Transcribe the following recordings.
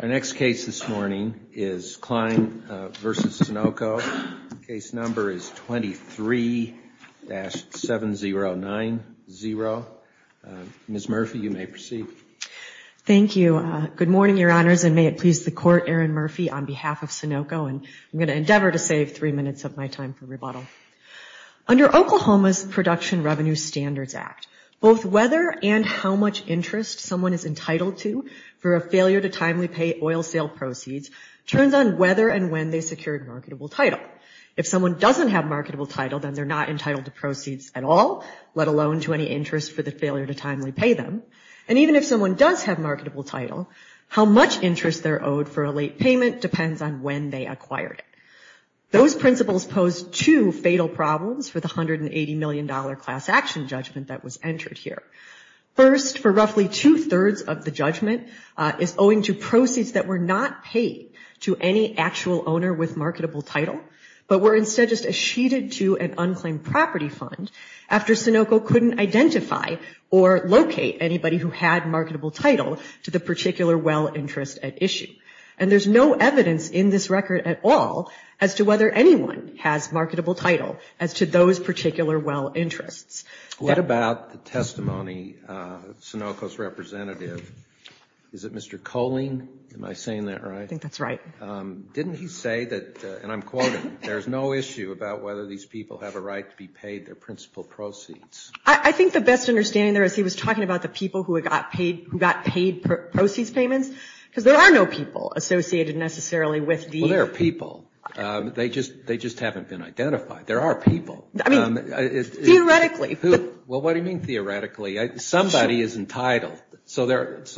Our next case this morning is Cline v. Sunoco. Case number is 23-7090. Ms. Murphy, you may proceed. Thank you. Good morning, Your Honors, and may it please the Court, Aaron Murphy on behalf of Sunoco. I'm going to endeavor to save three minutes of my time for rebuttal. Under Oklahoma's Production Revenue Standards Act, both whether and how much interest someone is entitled to for a failure to timely pay oil sale proceeds turns on whether and when they secured marketable title. If someone doesn't have marketable title, then they're not entitled to proceeds at all, let alone to any interest for the failure to timely pay them. And even if someone does have marketable title, how much interest they're owed for a late payment depends on when they acquired it. Those principles pose two fatal problems for the $180 million class action judgment that was entered here. First, for roughly two-thirds of the judgment is owing to proceeds that were not paid to any actual owner with marketable title, but were instead just achieved to an unclaimed property fund after Sunoco couldn't identify or locate anybody who had marketable title to the particular well interest at issue. And there's no evidence in this record at all as to whether anyone has marketable title as to those particular well interests. What about the testimony of Sunoco's representative? Is it Mr. Koehling? Am I saying that right? I think that's right. Didn't he say that, and I'm quoting, there's no issue about whether these people have a right to be paid their principal proceeds? I think the best understanding there is he was talking about the people who got paid proceeds payments, because there are no people associated necessarily with the- Well, there are people. They just haven't been identified. There are people. I mean, theoretically. Well, what do you mean theoretically? Somebody is entitled. So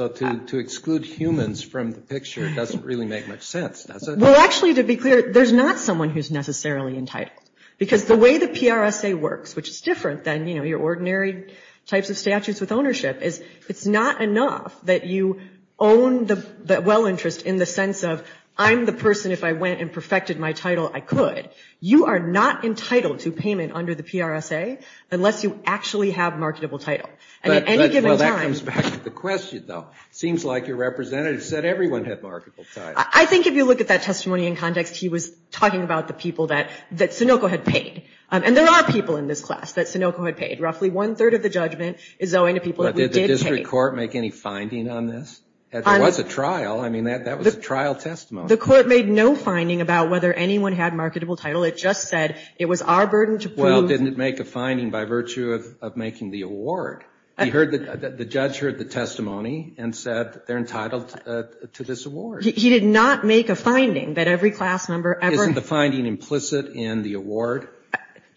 to exclude humans from the picture doesn't really make much sense, does it? Well, actually, to be clear, there's not someone who's necessarily entitled, because the way the PRSA works, which is different than, you know, your ordinary types of statutes with ownership, is it's not enough that you own the well interest in the sense of I'm the person, if I went and perfected my title, I could. You are not entitled to payment under the PRSA unless you actually have marketable title. And at any given time- Well, that comes back to the question, though. It seems like your representative said everyone had marketable title. I think if you look at that testimony in context, he was talking about the people that Sunoco had paid. And there are people in this class that Sunoco had paid. Roughly one third of the judgment is owing to people that we did pay. Did the district court make any finding on this? There was a trial. I mean, that was a trial testimony. The court made no finding about whether anyone had marketable title. It just said it was our burden to prove- Well, didn't it make a finding by virtue of making the award? The judge heard the testimony and said they're entitled to this award. He did not make a finding that every class member ever- Isn't the finding implicit in the award?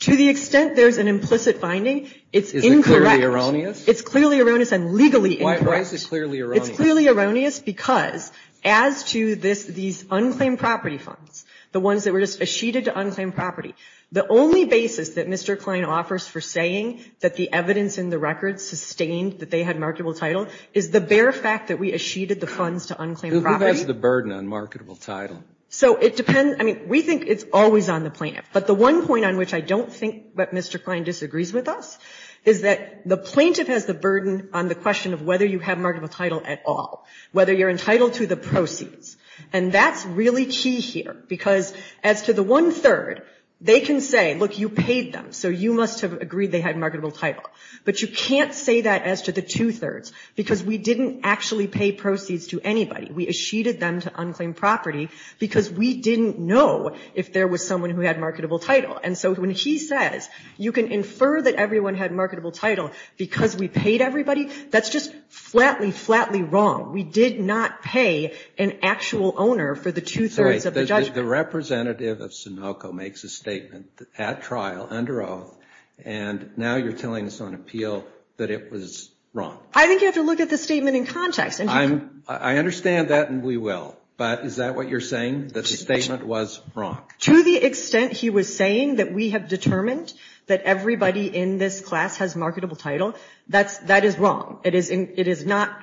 To the extent there's an implicit finding, it's incorrect. Is it clearly erroneous? It's clearly erroneous and legally incorrect. Why is it clearly erroneous? It's clearly erroneous because as to these unclaimed property funds, the ones that were just acheted to unclaimed property, the only basis that Mr. Klein offers for saying that the evidence in the record sustained that they had marketable title is the bare fact that we acheted the funds to unclaimed property. Who has the burden on marketable title? So it depends. I mean, we think it's always on the plaintiff. But the one point on which I don't think that Mr. Klein disagrees with us is that the plaintiff has the burden on the question of whether you have marketable title at all, whether you're entitled to the proceeds. And that's really key here because as to the one-third, they can say, look, you paid them, so you must have agreed they had marketable title. But you can't say that as to the two-thirds because we didn't actually pay proceeds to anybody. We acheted them to unclaimed property because we didn't know if there was someone who had marketable title. And so when he says you can infer that everyone had marketable title because we paid everybody, that's just flatly, flatly wrong. We did not pay an actual owner for the two-thirds of the judgment. The representative of Sunoco makes a statement at trial, under oath, and now you're telling us on appeal that it was wrong. I think you have to look at the statement in context. I understand that, and we will. But is that what you're saying, that the statement was wrong? To the extent he was saying that we have determined that everybody in this class has marketable title, that is wrong. It is not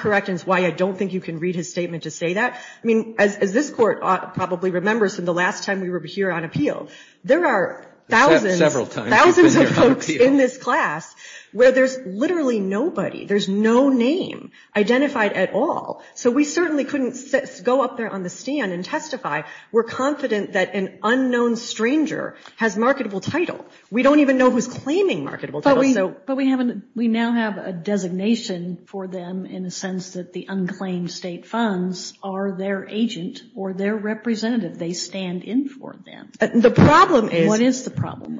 correct, and it's why I don't think you can read his statement to say that. I mean, as this Court probably remembers from the last time we were here on appeal, there are thousands of folks in this class where there's literally nobody. There's no name identified at all. So we certainly couldn't go up there on the stand and testify. We're confident that an unknown stranger has marketable title. We don't even know who's claiming marketable title. But we now have a designation for them in the sense that the unclaimed state funds are their agent or their representative. They stand in for them. The problem is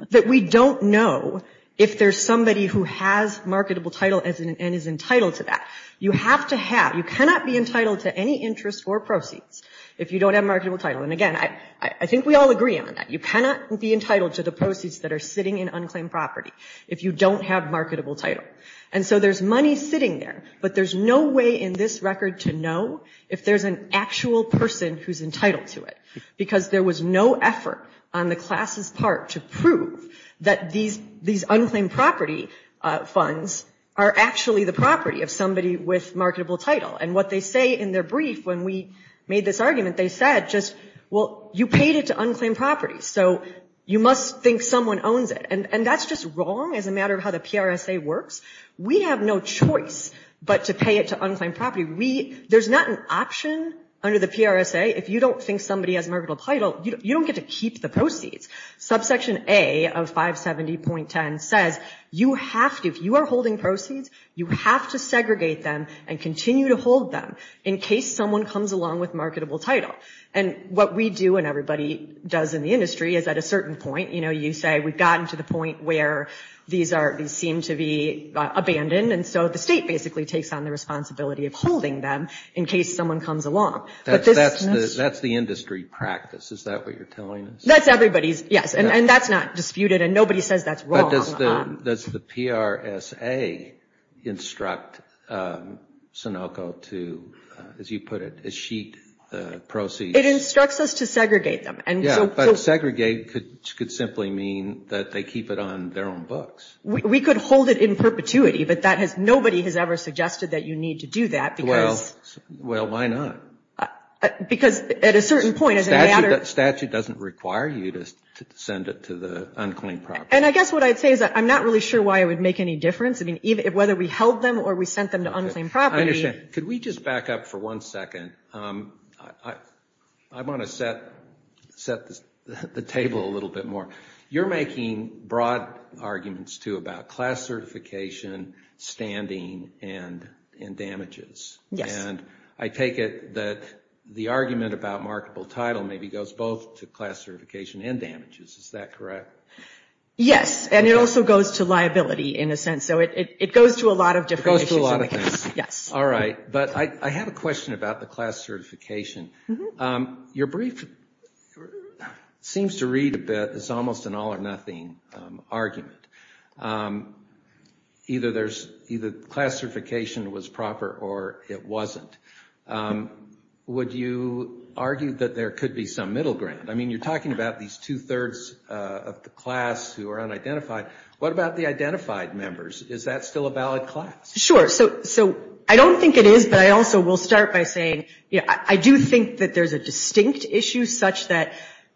that we don't know if there's somebody who has marketable title and is entitled to that. You have to have. You cannot be entitled to any interest or proceeds if you don't have marketable title. And again, I think we all agree on that. You cannot be entitled to the proceeds that are sitting in unclaimed property if you don't have marketable title. And so there's money sitting there, but there's no way in this record to know if there's an actual person who's entitled to it because there was no effort on the class's part to prove that these unclaimed property funds are actually the property of somebody with marketable title. And what they say in their brief when we made this argument, they said just, well, you paid it to unclaimed property, so you must think someone owns it. And that's just wrong as a matter of how the PRSA works. We have no choice but to pay it to unclaimed property. There's not an option under the PRSA. If you don't think somebody has marketable title, you don't get to keep the proceeds. Subsection A of 570.10 says you have to, if you are holding proceeds, you have to segregate them and continue to hold them in case someone comes along with marketable title. And what we do and everybody does in the industry is at a certain point, you know, you say we've gotten to the point where these seem to be abandoned, and so the state basically takes on the responsibility of holding them in case someone comes along. That's the industry practice, is that what you're telling us? That's everybody's, yes, and that's not disputed, and nobody says that's wrong. But does the PRSA instruct Sunoco to, as you put it, sheet the proceeds? It instructs us to segregate them. Yeah, but segregate could simply mean that they keep it on their own books. We could hold it in perpetuity, but nobody has ever suggested that you need to do that because. Well, why not? Because at a certain point. Statute doesn't require you to send it to the unclaimed property. And I guess what I'd say is that I'm not really sure why it would make any difference. I mean, whether we held them or we sent them to unclaimed property. I understand. Could we just back up for one second? I want to set the table a little bit more. You're making broad arguments, too, about class certification, standing, and damages. Yes. And I take it that the argument about markable title maybe goes both to class certification and damages. Is that correct? Yes, and it also goes to liability in a sense. So it goes to a lot of different issues. It goes to a lot of things. Yes. All right. But I have a question about the class certification. Your brief seems to read a bit. It's almost an all or nothing argument. Either class certification was proper or it wasn't. Would you argue that there could be some middle ground? I mean, you're talking about these two-thirds of the class who are unidentified. What about the identified members? Is that still a valid class? Sure. So I don't think it is, but I also will start by saying I do think that there's a distinct issue such that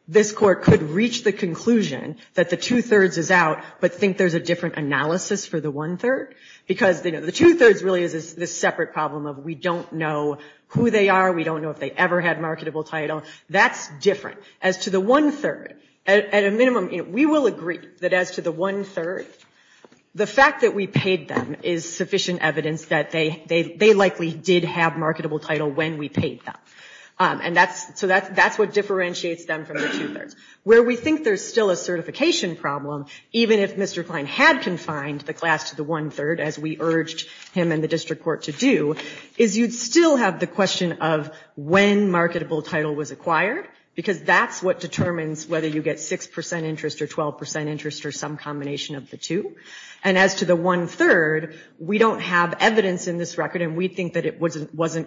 this court could reach the conclusion that the two-thirds is out but think there's a different analysis for the one-third. Because the two-thirds really is this separate problem of we don't know who they are, we don't know if they ever had marketable title. That's different. As to the one-third, at a minimum, we will agree that as to the one-third, the fact that we paid them is sufficient evidence that they likely did have marketable title when we paid them. So that's what differentiates them from the two-thirds. Where we think there's still a certification problem, even if Mr. Klein had confined the class to the one-third, as we urged him and the district court to do, is you'd still have the question of when marketable title was acquired, because that's what determines whether you get 6% interest or 12% interest or some combination of the two. And as to the one-third, we don't have evidence in this record, and we think that it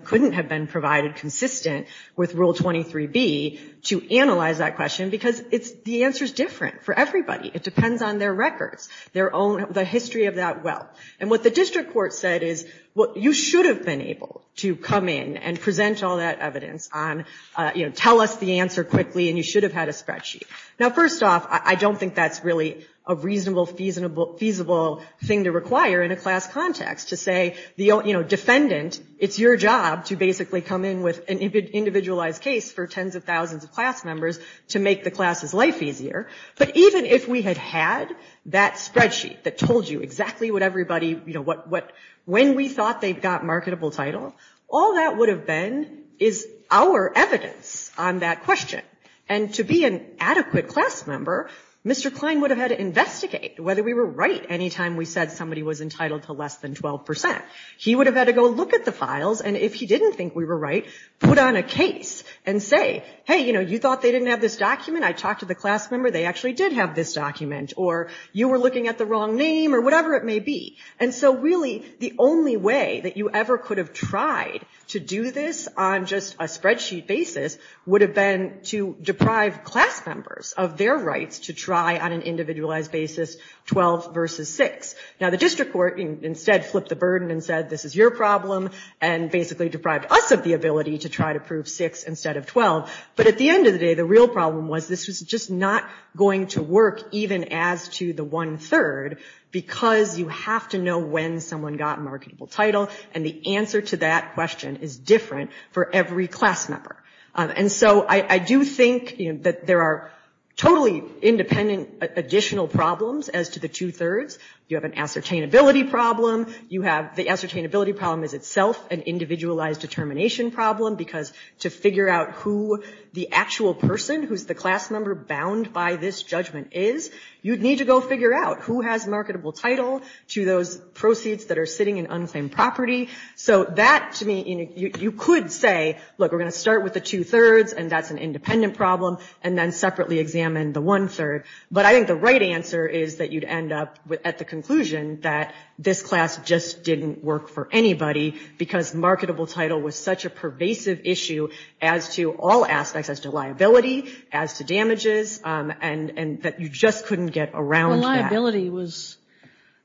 couldn't have been provided consistent with Rule 23B to analyze that question, because the answer is different for everybody. It depends on their records, the history of that wealth. And what the district court said is you should have been able to come in and present all that evidence on, you know, tell us the answer quickly and you should have had a spreadsheet. Now, first off, I don't think that's really a reasonable, feasible thing to require in a class context to say, you know, defendant, it's your job to basically come in with an individualized case for tens of thousands of class members to make the class's life easier. But even if we had had that spreadsheet that told you exactly what everybody, you know, when we thought they got marketable title, all that would have been is our evidence on that question. And to be an adequate class member, Mr. Klein would have had to investigate whether we were right any time we said somebody was entitled to less than 12%. He would have had to go look at the files, and if he didn't think we were right, put on a case and say, hey, you know, you thought they didn't have this document, I talked to the class member, they actually did have this document, or you were looking at the wrong name or whatever it may be. And so really, the only way that you ever could have tried to do this on just a spreadsheet basis would have been to deprive class members of their rights to try on an individualized basis 12 versus 6. Now, the district court instead flipped the burden and said, this is your problem, and basically deprived us of the ability to try to prove 6 instead of 12. But at the end of the day, the real problem was this was just not going to work even as to the one-third, because you have to know when someone got a marketable title, and the answer to that question is different for every class member. And so I do think that there are totally independent additional problems as to the two-thirds. You have an ascertainability problem. You have the ascertainability problem is itself an individualized determination problem, because to figure out who the actual person who's the class member bound by this judgment is, you'd need to go figure out who has marketable title to those proceeds that are sitting in unclaimed property. So that, to me, you could say, look, we're going to start with the two-thirds, and that's an independent problem, and then separately examine the one-third. But I think the right answer is that you'd end up at the conclusion that this class just didn't work for anybody, because marketable title was such a pervasive issue as to all aspects, as to liability, as to damages, and that you just couldn't get around that. Well, liability was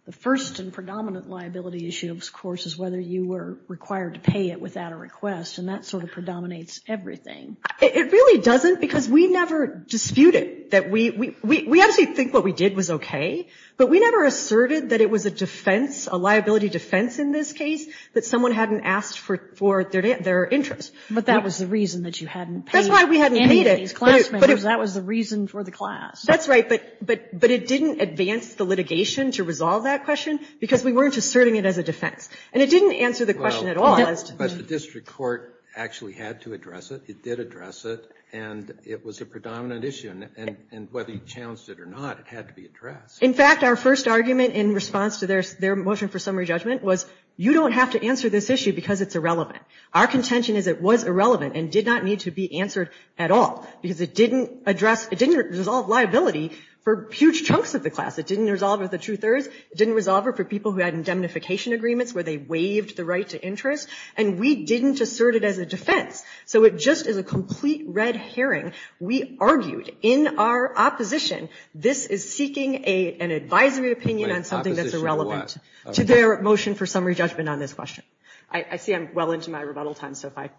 the first and predominant liability issue, of course, is whether you were required to pay it without a request, and that sort of predominates everything. It really doesn't, because we never disputed. We actually think what we did was okay, but we never asserted that it was a defense, a liability defense in this case, that someone hadn't asked for their interest. But that was the reason that you hadn't paid any of these class members. That was the reason for the class. That's right, but it didn't advance the litigation to resolve that question, because we weren't asserting it as a defense. And it didn't answer the question at all. But the district court actually had to address it. It did address it, and it was a predominant issue. And whether you challenged it or not, it had to be addressed. In fact, our first argument in response to their motion for summary judgment was, you don't have to answer this issue because it's irrelevant. Our contention is it was irrelevant and did not need to be answered at all, because it didn't address, it didn't resolve liability for huge chunks of the class. It didn't resolve it for two-thirds. It didn't resolve it for people who had indemnification agreements where they waived the right to interest. And we didn't assert it as a defense. So it just is a complete red herring. We argued in our opposition this is seeking an advisory opinion on something that's irrelevant. Opposition to what? To their motion for summary judgment on this question. I see I'm well into my rebuttal time, so if I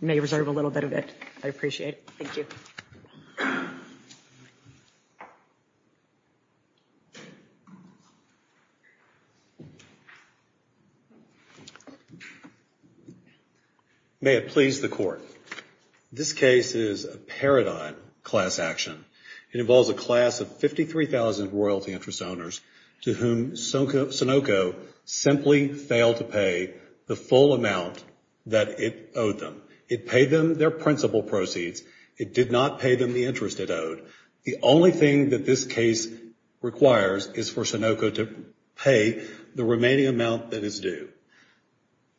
may reserve a little bit of it. I appreciate it. Thank you. May it please the court. This case is a paradigm class action. It involves a class of 53,000 royalty interest owners to whom Sunoco simply failed to pay the full amount that it owed them. It paid them their principal proceeds. It did not pay them the interest it owed. The only thing that this case requires is for Sunoco to pay the remaining amount that is due.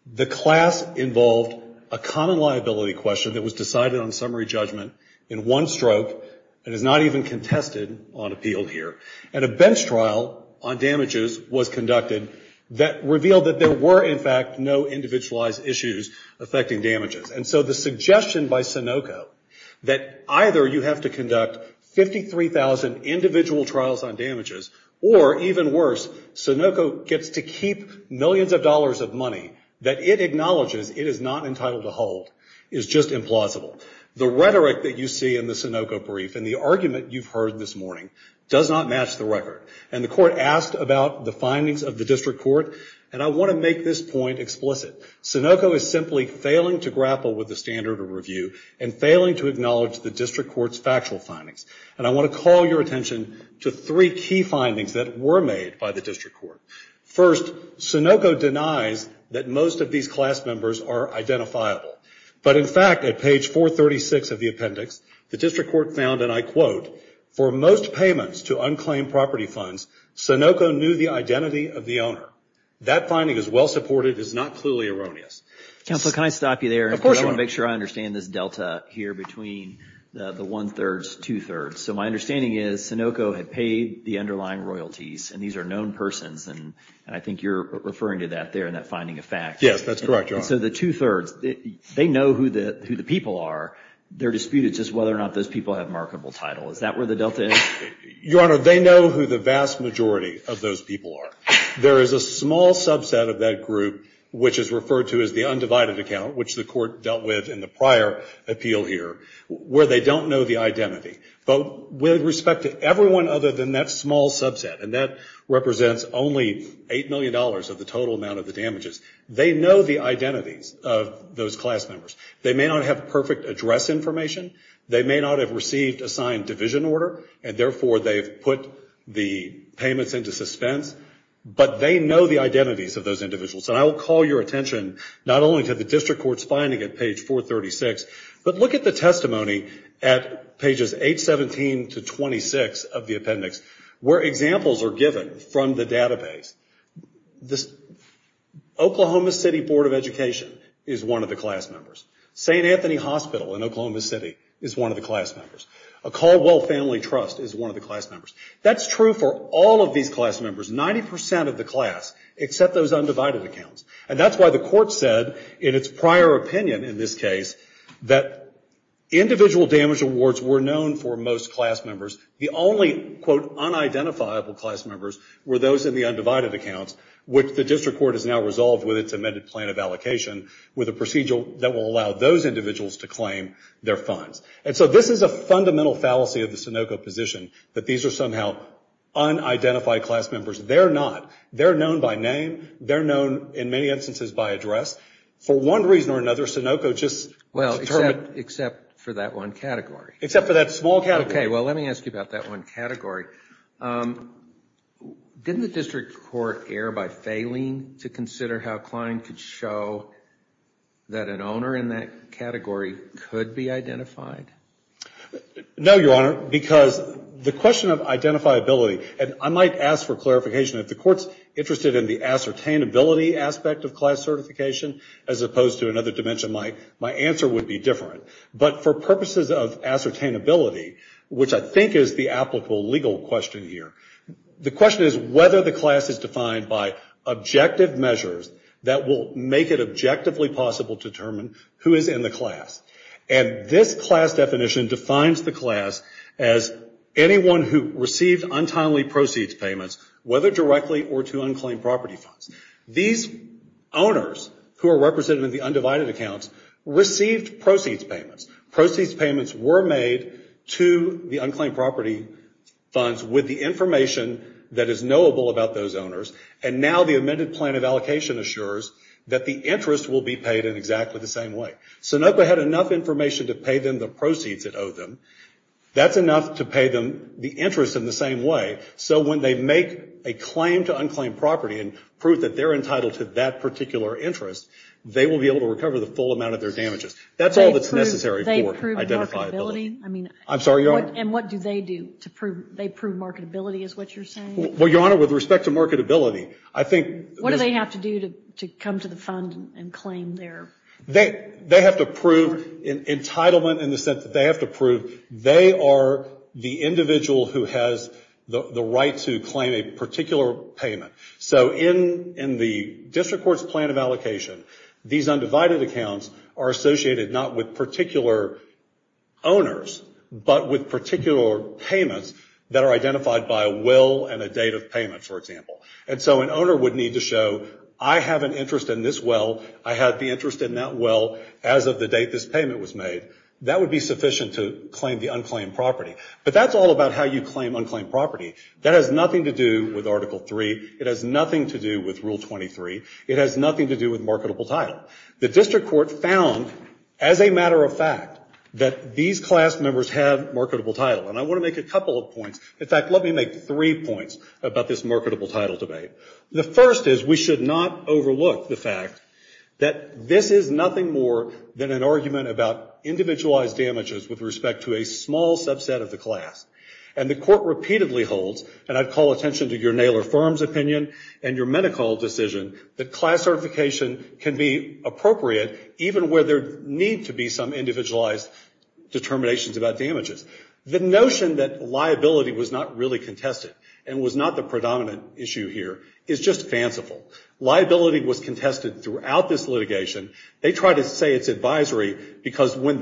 The class involved a common liability question that was decided on summary judgment in one stroke and is not even contested on appeal here. And a bench trial on damages was conducted that revealed that there were, in fact, no individualized issues affecting damages. And so the suggestion by Sunoco that either you have to conduct 53,000 individual trials on damages or, even worse, Sunoco gets to keep millions of dollars of money that it acknowledges it is not entitled to hold is just implausible. The rhetoric that you see in the Sunoco brief and the argument you've heard this morning does not match the record. And the court asked about the findings of the district court. And I want to make this point explicit. Sunoco is simply failing to grapple with the standard of review and failing to acknowledge the district court's factual findings. And I want to call your attention to three key findings that were made by the district court. First, Sunoco denies that most of these class members are identifiable. But, in fact, at page 436 of the appendix, the district court found, and I quote, for most payments to unclaimed property funds, Sunoco knew the identity of the owner. That finding is well-supported. It is not clearly erroneous. Counsel, can I stop you there? Of course. I want to make sure I understand this delta here between the one-thirds, two-thirds. So my understanding is Sunoco had paid the underlying royalties, and these are known persons. And I think you're referring to that there in that finding of facts. Yes, that's correct, Your Honor. So the two-thirds, they know who the people are. They're disputed just whether or not those people have marketable title. Is that where the delta is? Your Honor, they know who the vast majority of those people are. There is a small subset of that group, which is referred to as the undivided account, which the court dealt with in the prior appeal here, where they don't know the identity. But with respect to everyone other than that small subset, and that represents only $8 million of the total amount of the damages, they know the identities of those class members. They may not have perfect address information. They may not have received a signed division order, and therefore they've put the payments into suspense. But they know the identities of those individuals. And I will call your attention not only to the district court's finding at page 436, but look at the testimony at pages 817 to 26 of the appendix, where examples are given from the database. The Oklahoma City Board of Education is one of the class members. St. Anthony Hospital in Oklahoma City is one of the class members. A Caldwell Family Trust is one of the class members. That's true for all of these class members, 90% of the class, except those undivided accounts. And that's why the court said in its prior opinion in this case that individual damage awards were known for most class members. The only, quote, unidentifiable class members were those in the undivided accounts, which the district court has now resolved with its amended plan of allocation with a procedure that will allow those individuals to claim their funds. And so this is a fundamental fallacy of the Sunoco position, that these are somehow unidentified class members. They're not. They're known by name. They're known, in many instances, by address. For one reason or another, Sunoco just determined. Well, except for that one category. Except for that small category. Okay, well, let me ask you about that one category. Didn't the district court err by failing to consider how Klein could show that an owner in that category could be identified? No, Your Honor, because the question of identifiability, and I might ask for clarification, if the court's interested in the ascertainability aspect of class certification as opposed to another dimension, my answer would be different. But for purposes of ascertainability, which I think is the applicable legal question here, the question is whether the class is defined by objective measures that will make it objectively possible to determine who is in the class. And this class definition defines the class as anyone who received untimely proceeds payments, whether directly or to unclaimed property funds. These owners, who are represented in the undivided accounts, received proceeds payments. Proceeds payments were made to the unclaimed property funds with the information that is knowable about those owners, and now the amended plan of allocation assures that the interest will be paid in exactly the same way. Sunoco had enough information to pay them the proceeds it owed them. That's enough to pay them the interest in the same way, so when they make a claim to unclaimed property and prove that they're entitled to that particular interest, they will be able to recover the full amount of their damages. That's all that's necessary for identifiability. I'm sorry, Your Honor? And what do they do to prove they prove marketability is what you're saying? Well, Your Honor, with respect to marketability, I think... What do they have to do to come to the fund and claim their... They have to prove entitlement in the sense that they have to prove they are the individual who has the right to claim a particular payment. So in the district court's plan of allocation, these undivided accounts are associated not with particular owners, but with particular payments that are identified by a will and a date of payment, for example. And so an owner would need to show, I have an interest in this well, I had the interest in that well as of the date this payment was made. That would be sufficient to claim the unclaimed property. But that's all about how you claim unclaimed property. That has nothing to do with Article 3. It has nothing to do with Rule 23. It has nothing to do with marketable title. The district court found, as a matter of fact, that these class members have marketable title. And I want to make a couple of points. In fact, let me make three points about this marketable title debate. The first is we should not overlook the fact that this is nothing more than an argument about individualized damages with respect to a small subset of the class. And the court repeatedly holds, and I'd call attention to your Naylor Firm's opinion and your medical decision, that class certification can be appropriate even where there need to be some individualized determinations about damages. The notion that liability was not really contested and was not the predominant issue here is just fanciful. Liability was contested throughout this litigation. They try to say it's advisory because when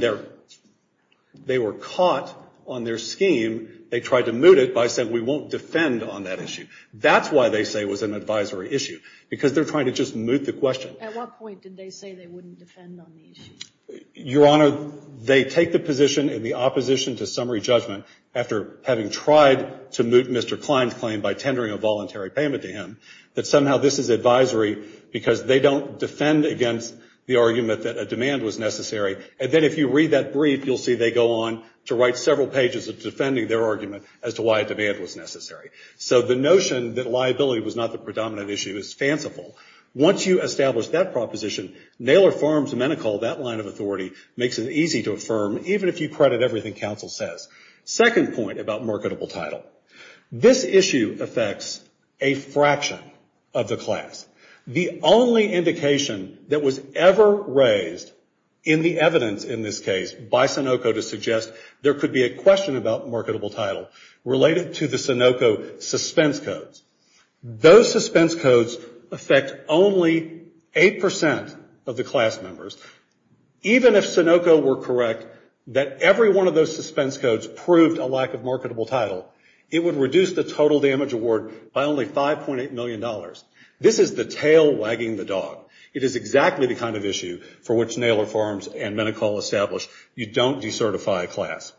they were caught on their scheme, they tried to moot it by saying, we won't defend on that issue. That's why they say it was an advisory issue, because they're trying to just moot the question. At what point did they say they wouldn't defend on the issue? Your Honor, they take the position in the opposition to summary judgment, after having tried to moot Mr. Klein's claim by tendering a voluntary payment to him, that somehow this is advisory because they don't defend against the argument that a demand was necessary. And then if you read that brief, you'll see they go on to write several pages of defending their argument as to why a demand was necessary. So the notion that liability was not the predominant issue is fanciful. Once you establish that proposition, Naylor Firm's medical, that line of authority, makes it easy to affirm, even if you credit everything counsel says. Second point about marketable title. This issue affects a fraction of the class. The only indication that was ever raised in the evidence in this case by Sunoco to suggest there could be a question about marketable title related to the Sunoco suspense codes. Those suspense codes affect only 8% of the class members. Even if Sunoco were correct that every one of those suspense codes proved a lack of marketable title, it would reduce the total damage award by only $5.8 million. This is the tail wagging the dog. It is exactly the kind of issue for which Naylor Firm's and Medi-Call establish. You don't decertify a class.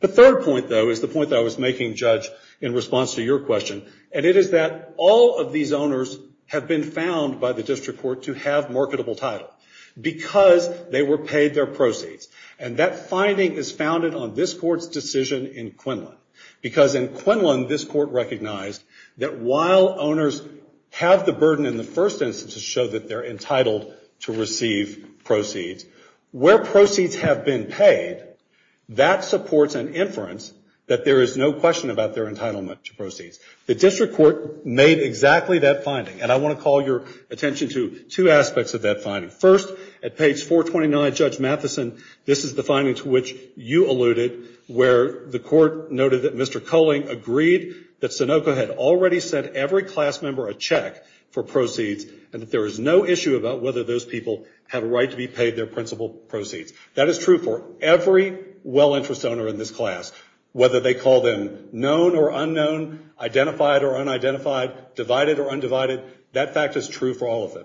The third point, though, is the point that I was making, Judge, in response to your question, and it is that all of these owners have been found by the district court to have marketable title because they were paid their proceeds. And that finding is founded on this court's decision in Quinlan because in Quinlan, this court recognized that while owners have the burden in the first instance to show that they're entitled to receive proceeds, where proceeds have been paid, that supports an inference that there is no question about their entitlement to proceeds. The district court made exactly that finding, and I want to call your attention to two aspects of that finding. First, at page 429, Judge Matheson, this is the finding to which you alluded where the court noted that Mr. Koehling agreed that Sunoco had already sent every class member a check for proceeds and that there is no issue about whether those people have a right to be paid their principal proceeds. That is true for every well-interest owner in this class, whether they call them known or unknown, identified or unidentified, divided or undivided. That fact is true for all of them.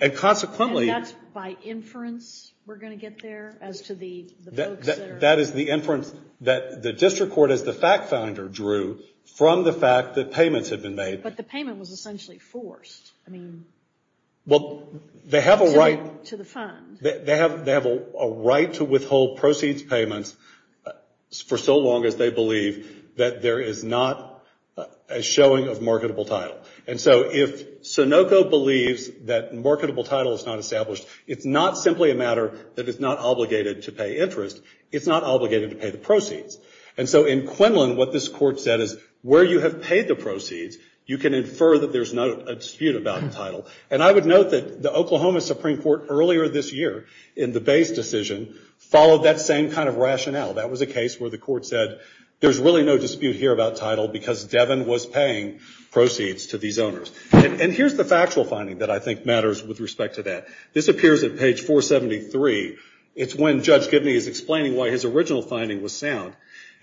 And consequently... And that's by inference we're going to get there as to the folks that are... That is the inference that the district court as the fact finder drew from the fact that payments had been made. But the payment was essentially forced. I mean... Well, they have a right... To the fund. They have a right to withhold proceeds payments for so long as they believe that there is not a showing of marketable title. And so if Sunoco believes that marketable title is not established, it's not simply a matter that it's not obligated to pay interest. It's not obligated to pay the proceeds. And so in Quinlan, what this court said is where you have paid the proceeds, you can infer that there's not a dispute about title. And I would note that the Oklahoma Supreme Court earlier this year in the base decision followed that same kind of rationale. That was a case where the court said there's really no dispute here about title because Devin was paying proceeds to these owners. And here's the factual finding that I think matters with respect to that. This appears at page 473. It's when Judge Gibney is explaining why his original finding was sound.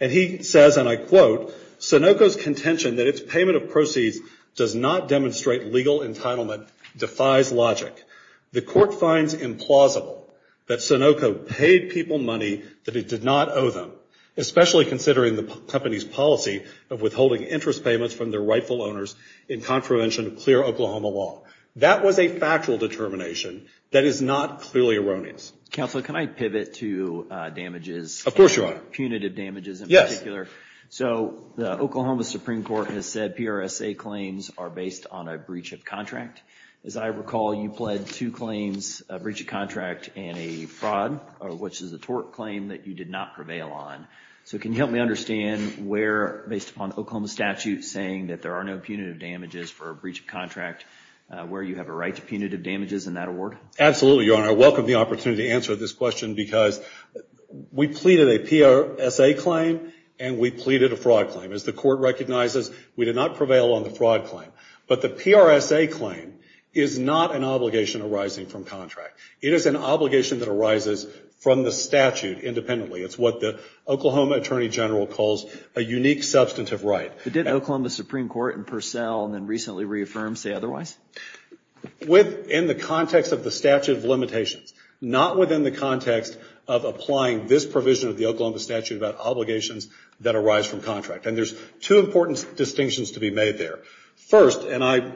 And he says, and I quote, Sunoco's contention that its payment of proceeds does not demonstrate legal entitlement defies logic. The court finds implausible that Sunoco paid people money that it did not owe them, especially considering the company's policy of withholding interest payments from their rightful owners in contravention of clear Oklahoma law. That was a factual determination that is not clearly erroneous. Counsel, can I pivot to damages? Of course, Your Honor. Punitive damages in particular. So the Oklahoma Supreme Court has said PRSA claims are based on a breach of contract. As I recall, you pled two claims, a breach of contract and a fraud, which is a tort claim that you did not prevail on. So can you help me understand where, based upon Oklahoma statute saying that there are no punitive damages for a breach of contract, where you have a right to punitive damages in that award? Absolutely, Your Honor. And I welcome the opportunity to answer this question because we pleaded a PRSA claim and we pleaded a fraud claim. As the court recognizes, we did not prevail on the fraud claim. But the PRSA claim is not an obligation arising from contract. It is an obligation that arises from the statute independently. It's what the Oklahoma Attorney General calls a unique substantive right. But didn't Oklahoma Supreme Court in Purcell and then recently reaffirmed say otherwise? Within the context of the statute of limitations, not within the context of applying this provision of the Oklahoma statute about obligations that arise from contract. And there's two important distinctions to be made there. First, and I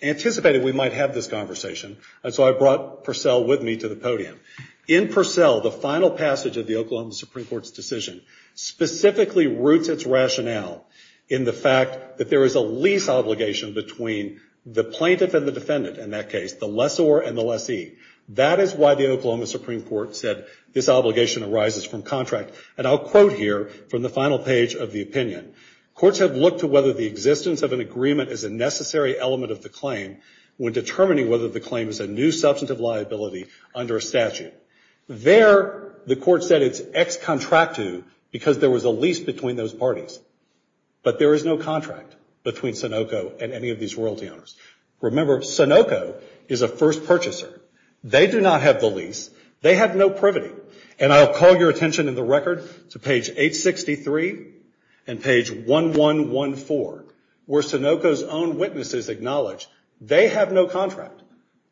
anticipated we might have this conversation, and so I brought Purcell with me to the podium. In Purcell, the final passage of the Oklahoma Supreme Court's decision specifically roots its rationale in the fact that there is a lease obligation between the plaintiff and the defendant in that case, the lessor and the lessee. That is why the Oklahoma Supreme Court said this obligation arises from contract. And I'll quote here from the final page of the opinion. Courts have looked to whether the existence of an agreement is a necessary element of the claim when determining whether the claim is a new substantive liability under a statute. There, the court said it's ex contractu because there was a lease between those parties. But there is no contract between Sunoco and any of these royalty owners. Remember, Sunoco is a first purchaser. They do not have the lease. They have no privity. And I'll call your attention in the record to page 863 and page 1114, where Sunoco's own witnesses acknowledge they have no contract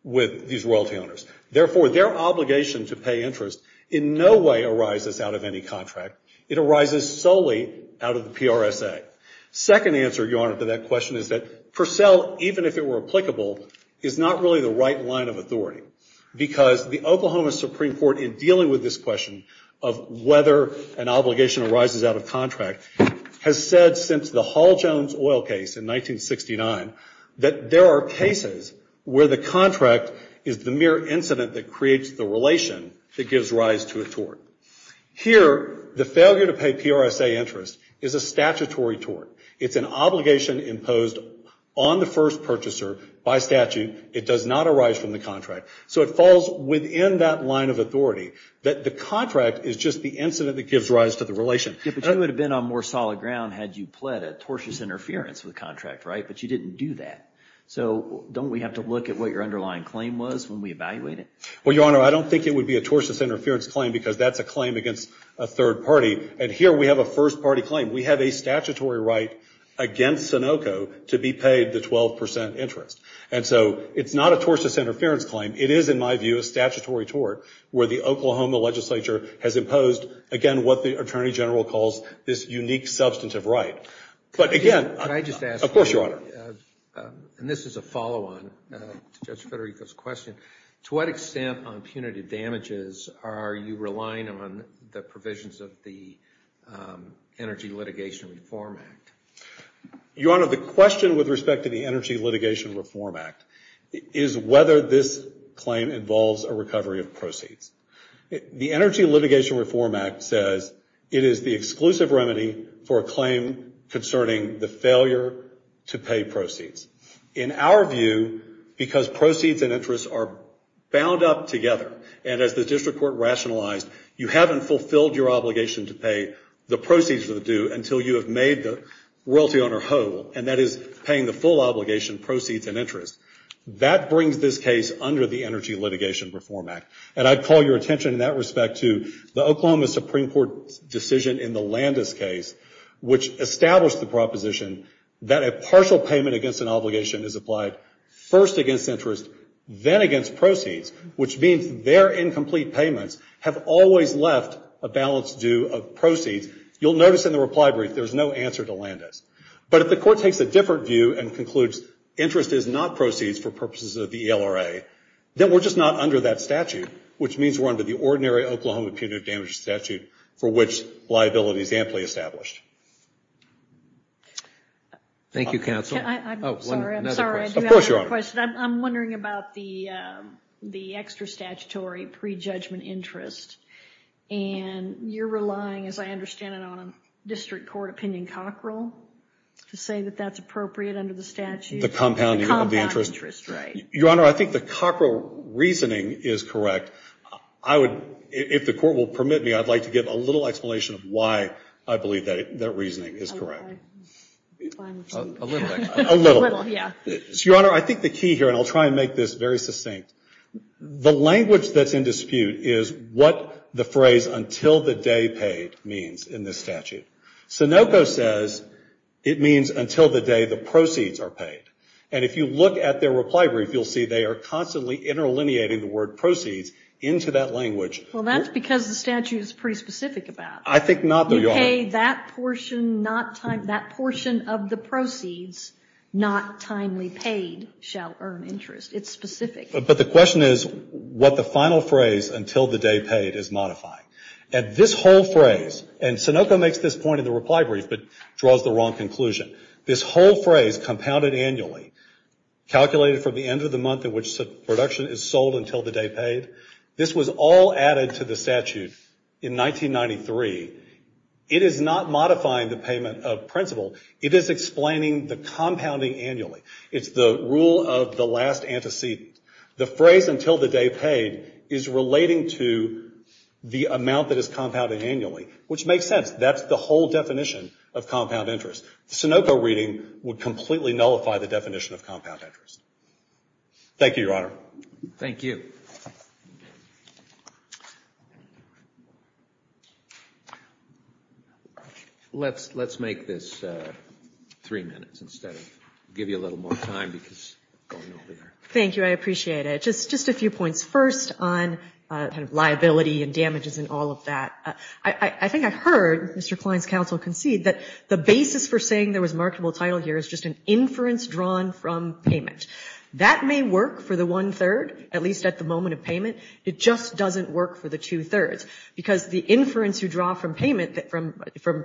with these royalty owners. Therefore, their obligation to pay interest in no way arises out of any contract. It arises solely out of the PRSA. Second answer, Your Honor, to that question is that Purcell, even if it were applicable, is not really the right line of authority because the Oklahoma Supreme Court in dealing with this question of whether an obligation arises out of contract has said since the Hall-Jones oil case in 1969 that there are cases where the contract is the mere incident that creates the relation that gives rise to a tort. Here, the failure to pay PRSA interest is a statutory tort. It's an obligation imposed on the first purchaser by statute. It does not arise from the contract. So it falls within that line of authority that the contract is just the incident that gives rise to the relation. Yeah, but you would have been on more solid ground had you pled a tortious interference with the contract, right? But you didn't do that. So don't we have to look at what your underlying claim was when we evaluate it? Well, Your Honor, I don't think it would be a tortious interference claim because that's a claim against a third party. And here we have a first-party claim. We have a statutory right against Sunoco to be paid the 12% interest. And so it's not a tortious interference claim. It is, in my view, a statutory tort where the Oklahoma legislature has imposed, again, what the Attorney General calls this unique substantive right. But again... Can I just ask you... Of course, Your Honor. And this is a follow-on to Judge Federico's question. To what extent on punitive damages are you relying on the provisions of the Energy Litigation Reform Act? Your Honor, the question with respect to the Energy Litigation Reform Act is whether this claim involves a recovery of proceeds. The Energy Litigation Reform Act says it is the exclusive remedy for a claim concerning the failure to pay proceeds. In our view, because proceeds and interest are bound up together, and as the district court rationalized, you haven't fulfilled your obligation to pay the proceeds of the due until you have made the royalty owner whole, and that is paying the full obligation, proceeds, and interest. That brings this case under the Energy Litigation Reform Act. And I'd call your attention in that respect to the Oklahoma Supreme Court decision in the Landis case, which established the proposition that a partial payment against an obligation is applied first against interest, then against proceeds, which means their incomplete payments have always left a balance due of proceeds. You'll notice in the reply brief there's no answer to Landis. But if the court takes a different view and concludes interest is not proceeds for purposes of the ELRA, then we're just not under that statute, which means we're under the ordinary Oklahoma punitive damages statute for which liability is amply established. Thank you, counsel. I'm sorry, I do have a question. I'm wondering about the extra statutory pre-judgment interest, and you're relying, as I understand it, on a district court opinion cockerel to say that that's appropriate under the statute. The compounding of the interest. The compound interest, right. Your Honor, I think the cockerel reasoning is correct. I would, if the court will permit me, I'd like to give a little explanation of why I believe that reasoning is correct. Okay. A little bit. A little. A little, yeah. Your Honor, I think the key here, and I'll try and make this very succinct, the language that's in dispute is what the phrase until the day paid means in this statute. Sunoco says it means until the day the proceeds are paid. And if you look at their reply brief, you'll see they are constantly interlineating the word proceeds into that language. Well, that's because the statute is pretty specific about it. I think not, though, Your Honor. You pay that portion of the proceeds not timely paid shall earn interest. It's specific. But the question is what the final phrase until the day paid is modifying. And this whole phrase, and Sunoco makes this point in the reply brief, but draws the wrong conclusion. This whole phrase, compounded annually, calculated from the end of the month in which production is sold until the day paid, this was all added to the statute in 1993. It is not modifying the payment of principal. It is explaining the compounding annually. It's the rule of the last antecedent. The phrase until the day paid is relating to the amount that is compounded annually, which makes sense. That's the whole definition of compound interest. Sunoco reading would completely nullify the definition of compound interest. Thank you, Your Honor. Thank you. Let's make this three minutes instead of give you a little more time because we're going over there. Thank you. I appreciate it. Just a few points. First, on liability and damages and all of that, I think I heard Mr. Klein's counsel concede that the basis for saying there was marketable title here is just an inference drawn from payment. That may work for the one-third, at least at the moment, of payment. It just doesn't work for the two-thirds because the inference you draw from payment, from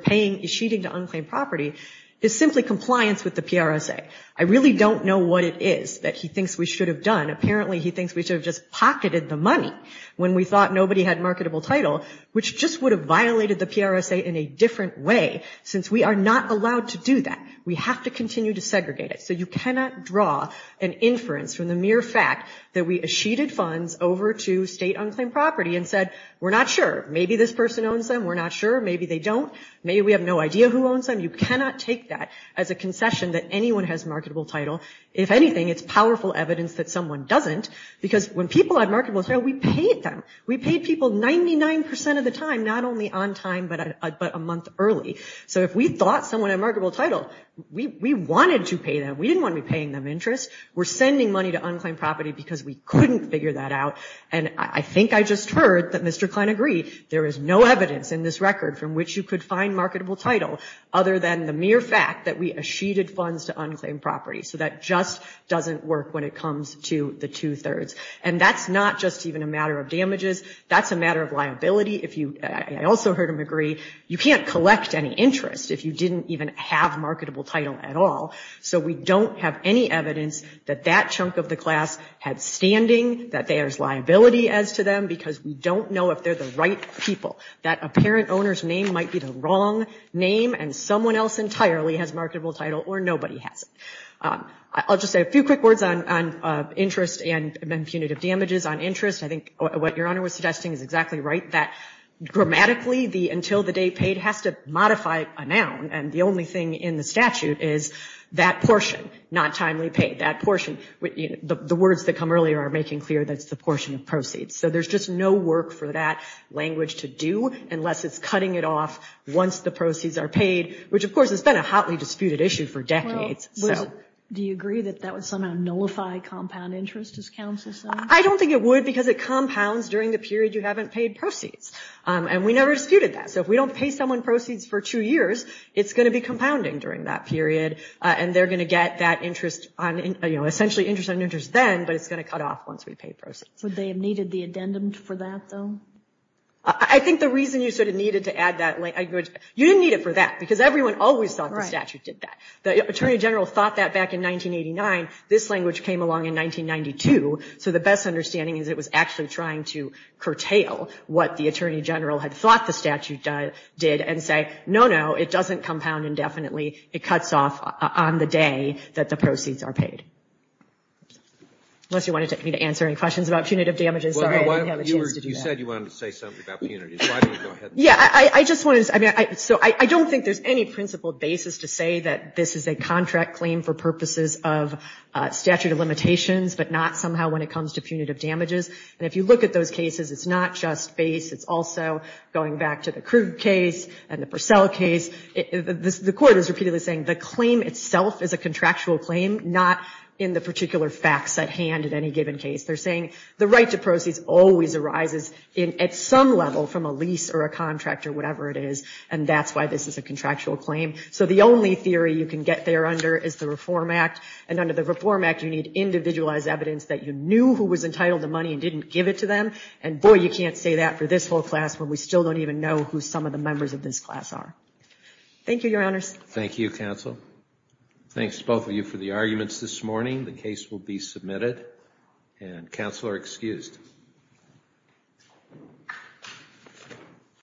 sheeting to unclaimed property, is simply compliance with the PRSA. I really don't know what it is that he thinks we should have done. Apparently, he thinks we should have just pocketed the money when we thought nobody had marketable title, which just would have violated the PRSA in a different way since we are not allowed to do that. We have to continue to segregate it. So you cannot draw an inference from the mere fact that we sheeted funds over to state unclaimed property and said, we're not sure. Maybe this person owns them. We're not sure. Maybe they don't. Maybe we have no idea who owns them. You cannot take that as a concession that anyone has marketable title. If anything, it's powerful evidence that someone doesn't because when people had marketable title, we paid them. We paid people 99% of the time, not only on time but a month early. So if we thought someone had marketable title, we wanted to pay them. We didn't want to be paying them interest. We're sending money to unclaimed property because we couldn't figure that out. And I think I just heard that Mr. Klein agreed. There is no evidence in this record from which you could find marketable title other than the mere fact that we sheeted funds to unclaimed property. So that just doesn't work when it comes to the two-thirds. And that's not just even a matter of damages. That's a matter of liability. I also heard him agree. You can't collect any interest if you didn't even have marketable title at all. So we don't have any evidence that that chunk of the class had standing, that there's liability as to them because we don't know if they're the right people. That apparent owner's name might be the wrong name and someone else entirely has marketable title or nobody has it. I'll just say a few quick words on interest and impunitive damages on interest. I think what Your Honor was suggesting is exactly right, that grammatically the until the day paid has to modify a noun. And the only thing in the statute is that portion, not timely paid, that portion. The words that come earlier are making clear that it's the portion of proceeds. So there's just no work for that language to do unless it's cutting it off once the proceeds are paid, which of course has been a hotly disputed issue for decades. Do you agree that that would somehow nullify compound interest as counsel said? I don't think it would because it compounds during the period you haven't paid proceeds. And we never disputed that. So if we don't pay someone proceeds for two years, it's going to be compounding during that period and they're going to get that interest on, essentially interest on interest then, but it's going to cut off once we pay proceeds. Would they have needed the addendum for that though? I think the reason you sort of needed to add that, you didn't need it for that because everyone always thought the statute did that. The Attorney General thought that back in 1989. This language came along in 1992. So the best understanding is it was actually trying to curtail what the Attorney General had thought the statute did and say, no, no, it doesn't compound indefinitely. It cuts off on the day that the proceeds are paid. Unless you wanted me to answer any questions about punitive damages. Sorry, I didn't have a chance to do that. You said you wanted to say something about punitive damages. Why don't you go ahead. Yeah, I just wanted to say, so I don't think there's any principled basis to say that this is a contract claim for purposes of statute of limitations, but not somehow when it comes to punitive damages. And if you look at those cases, it's not just base. It's also going back to the Krug case and the Purcell case. The court is repeatedly saying the claim itself is a contractual claim, not in the particular facts at hand in any given case. They're saying the right to proceeds always arises at some level from a lease or a contract or whatever it is. And that's why this is a contractual claim. So the only theory you can get there under is the Reform Act. And under the Reform Act, you need individualized evidence that you knew who was entitled to money and didn't give it to them. And boy, you can't say that for this whole class when we still don't even know who some of the members of this class are. Thank you, Your Honors. Thank you, Counsel. Thanks to both of you for the arguments this morning. The case will be submitted. And Counsel are excused.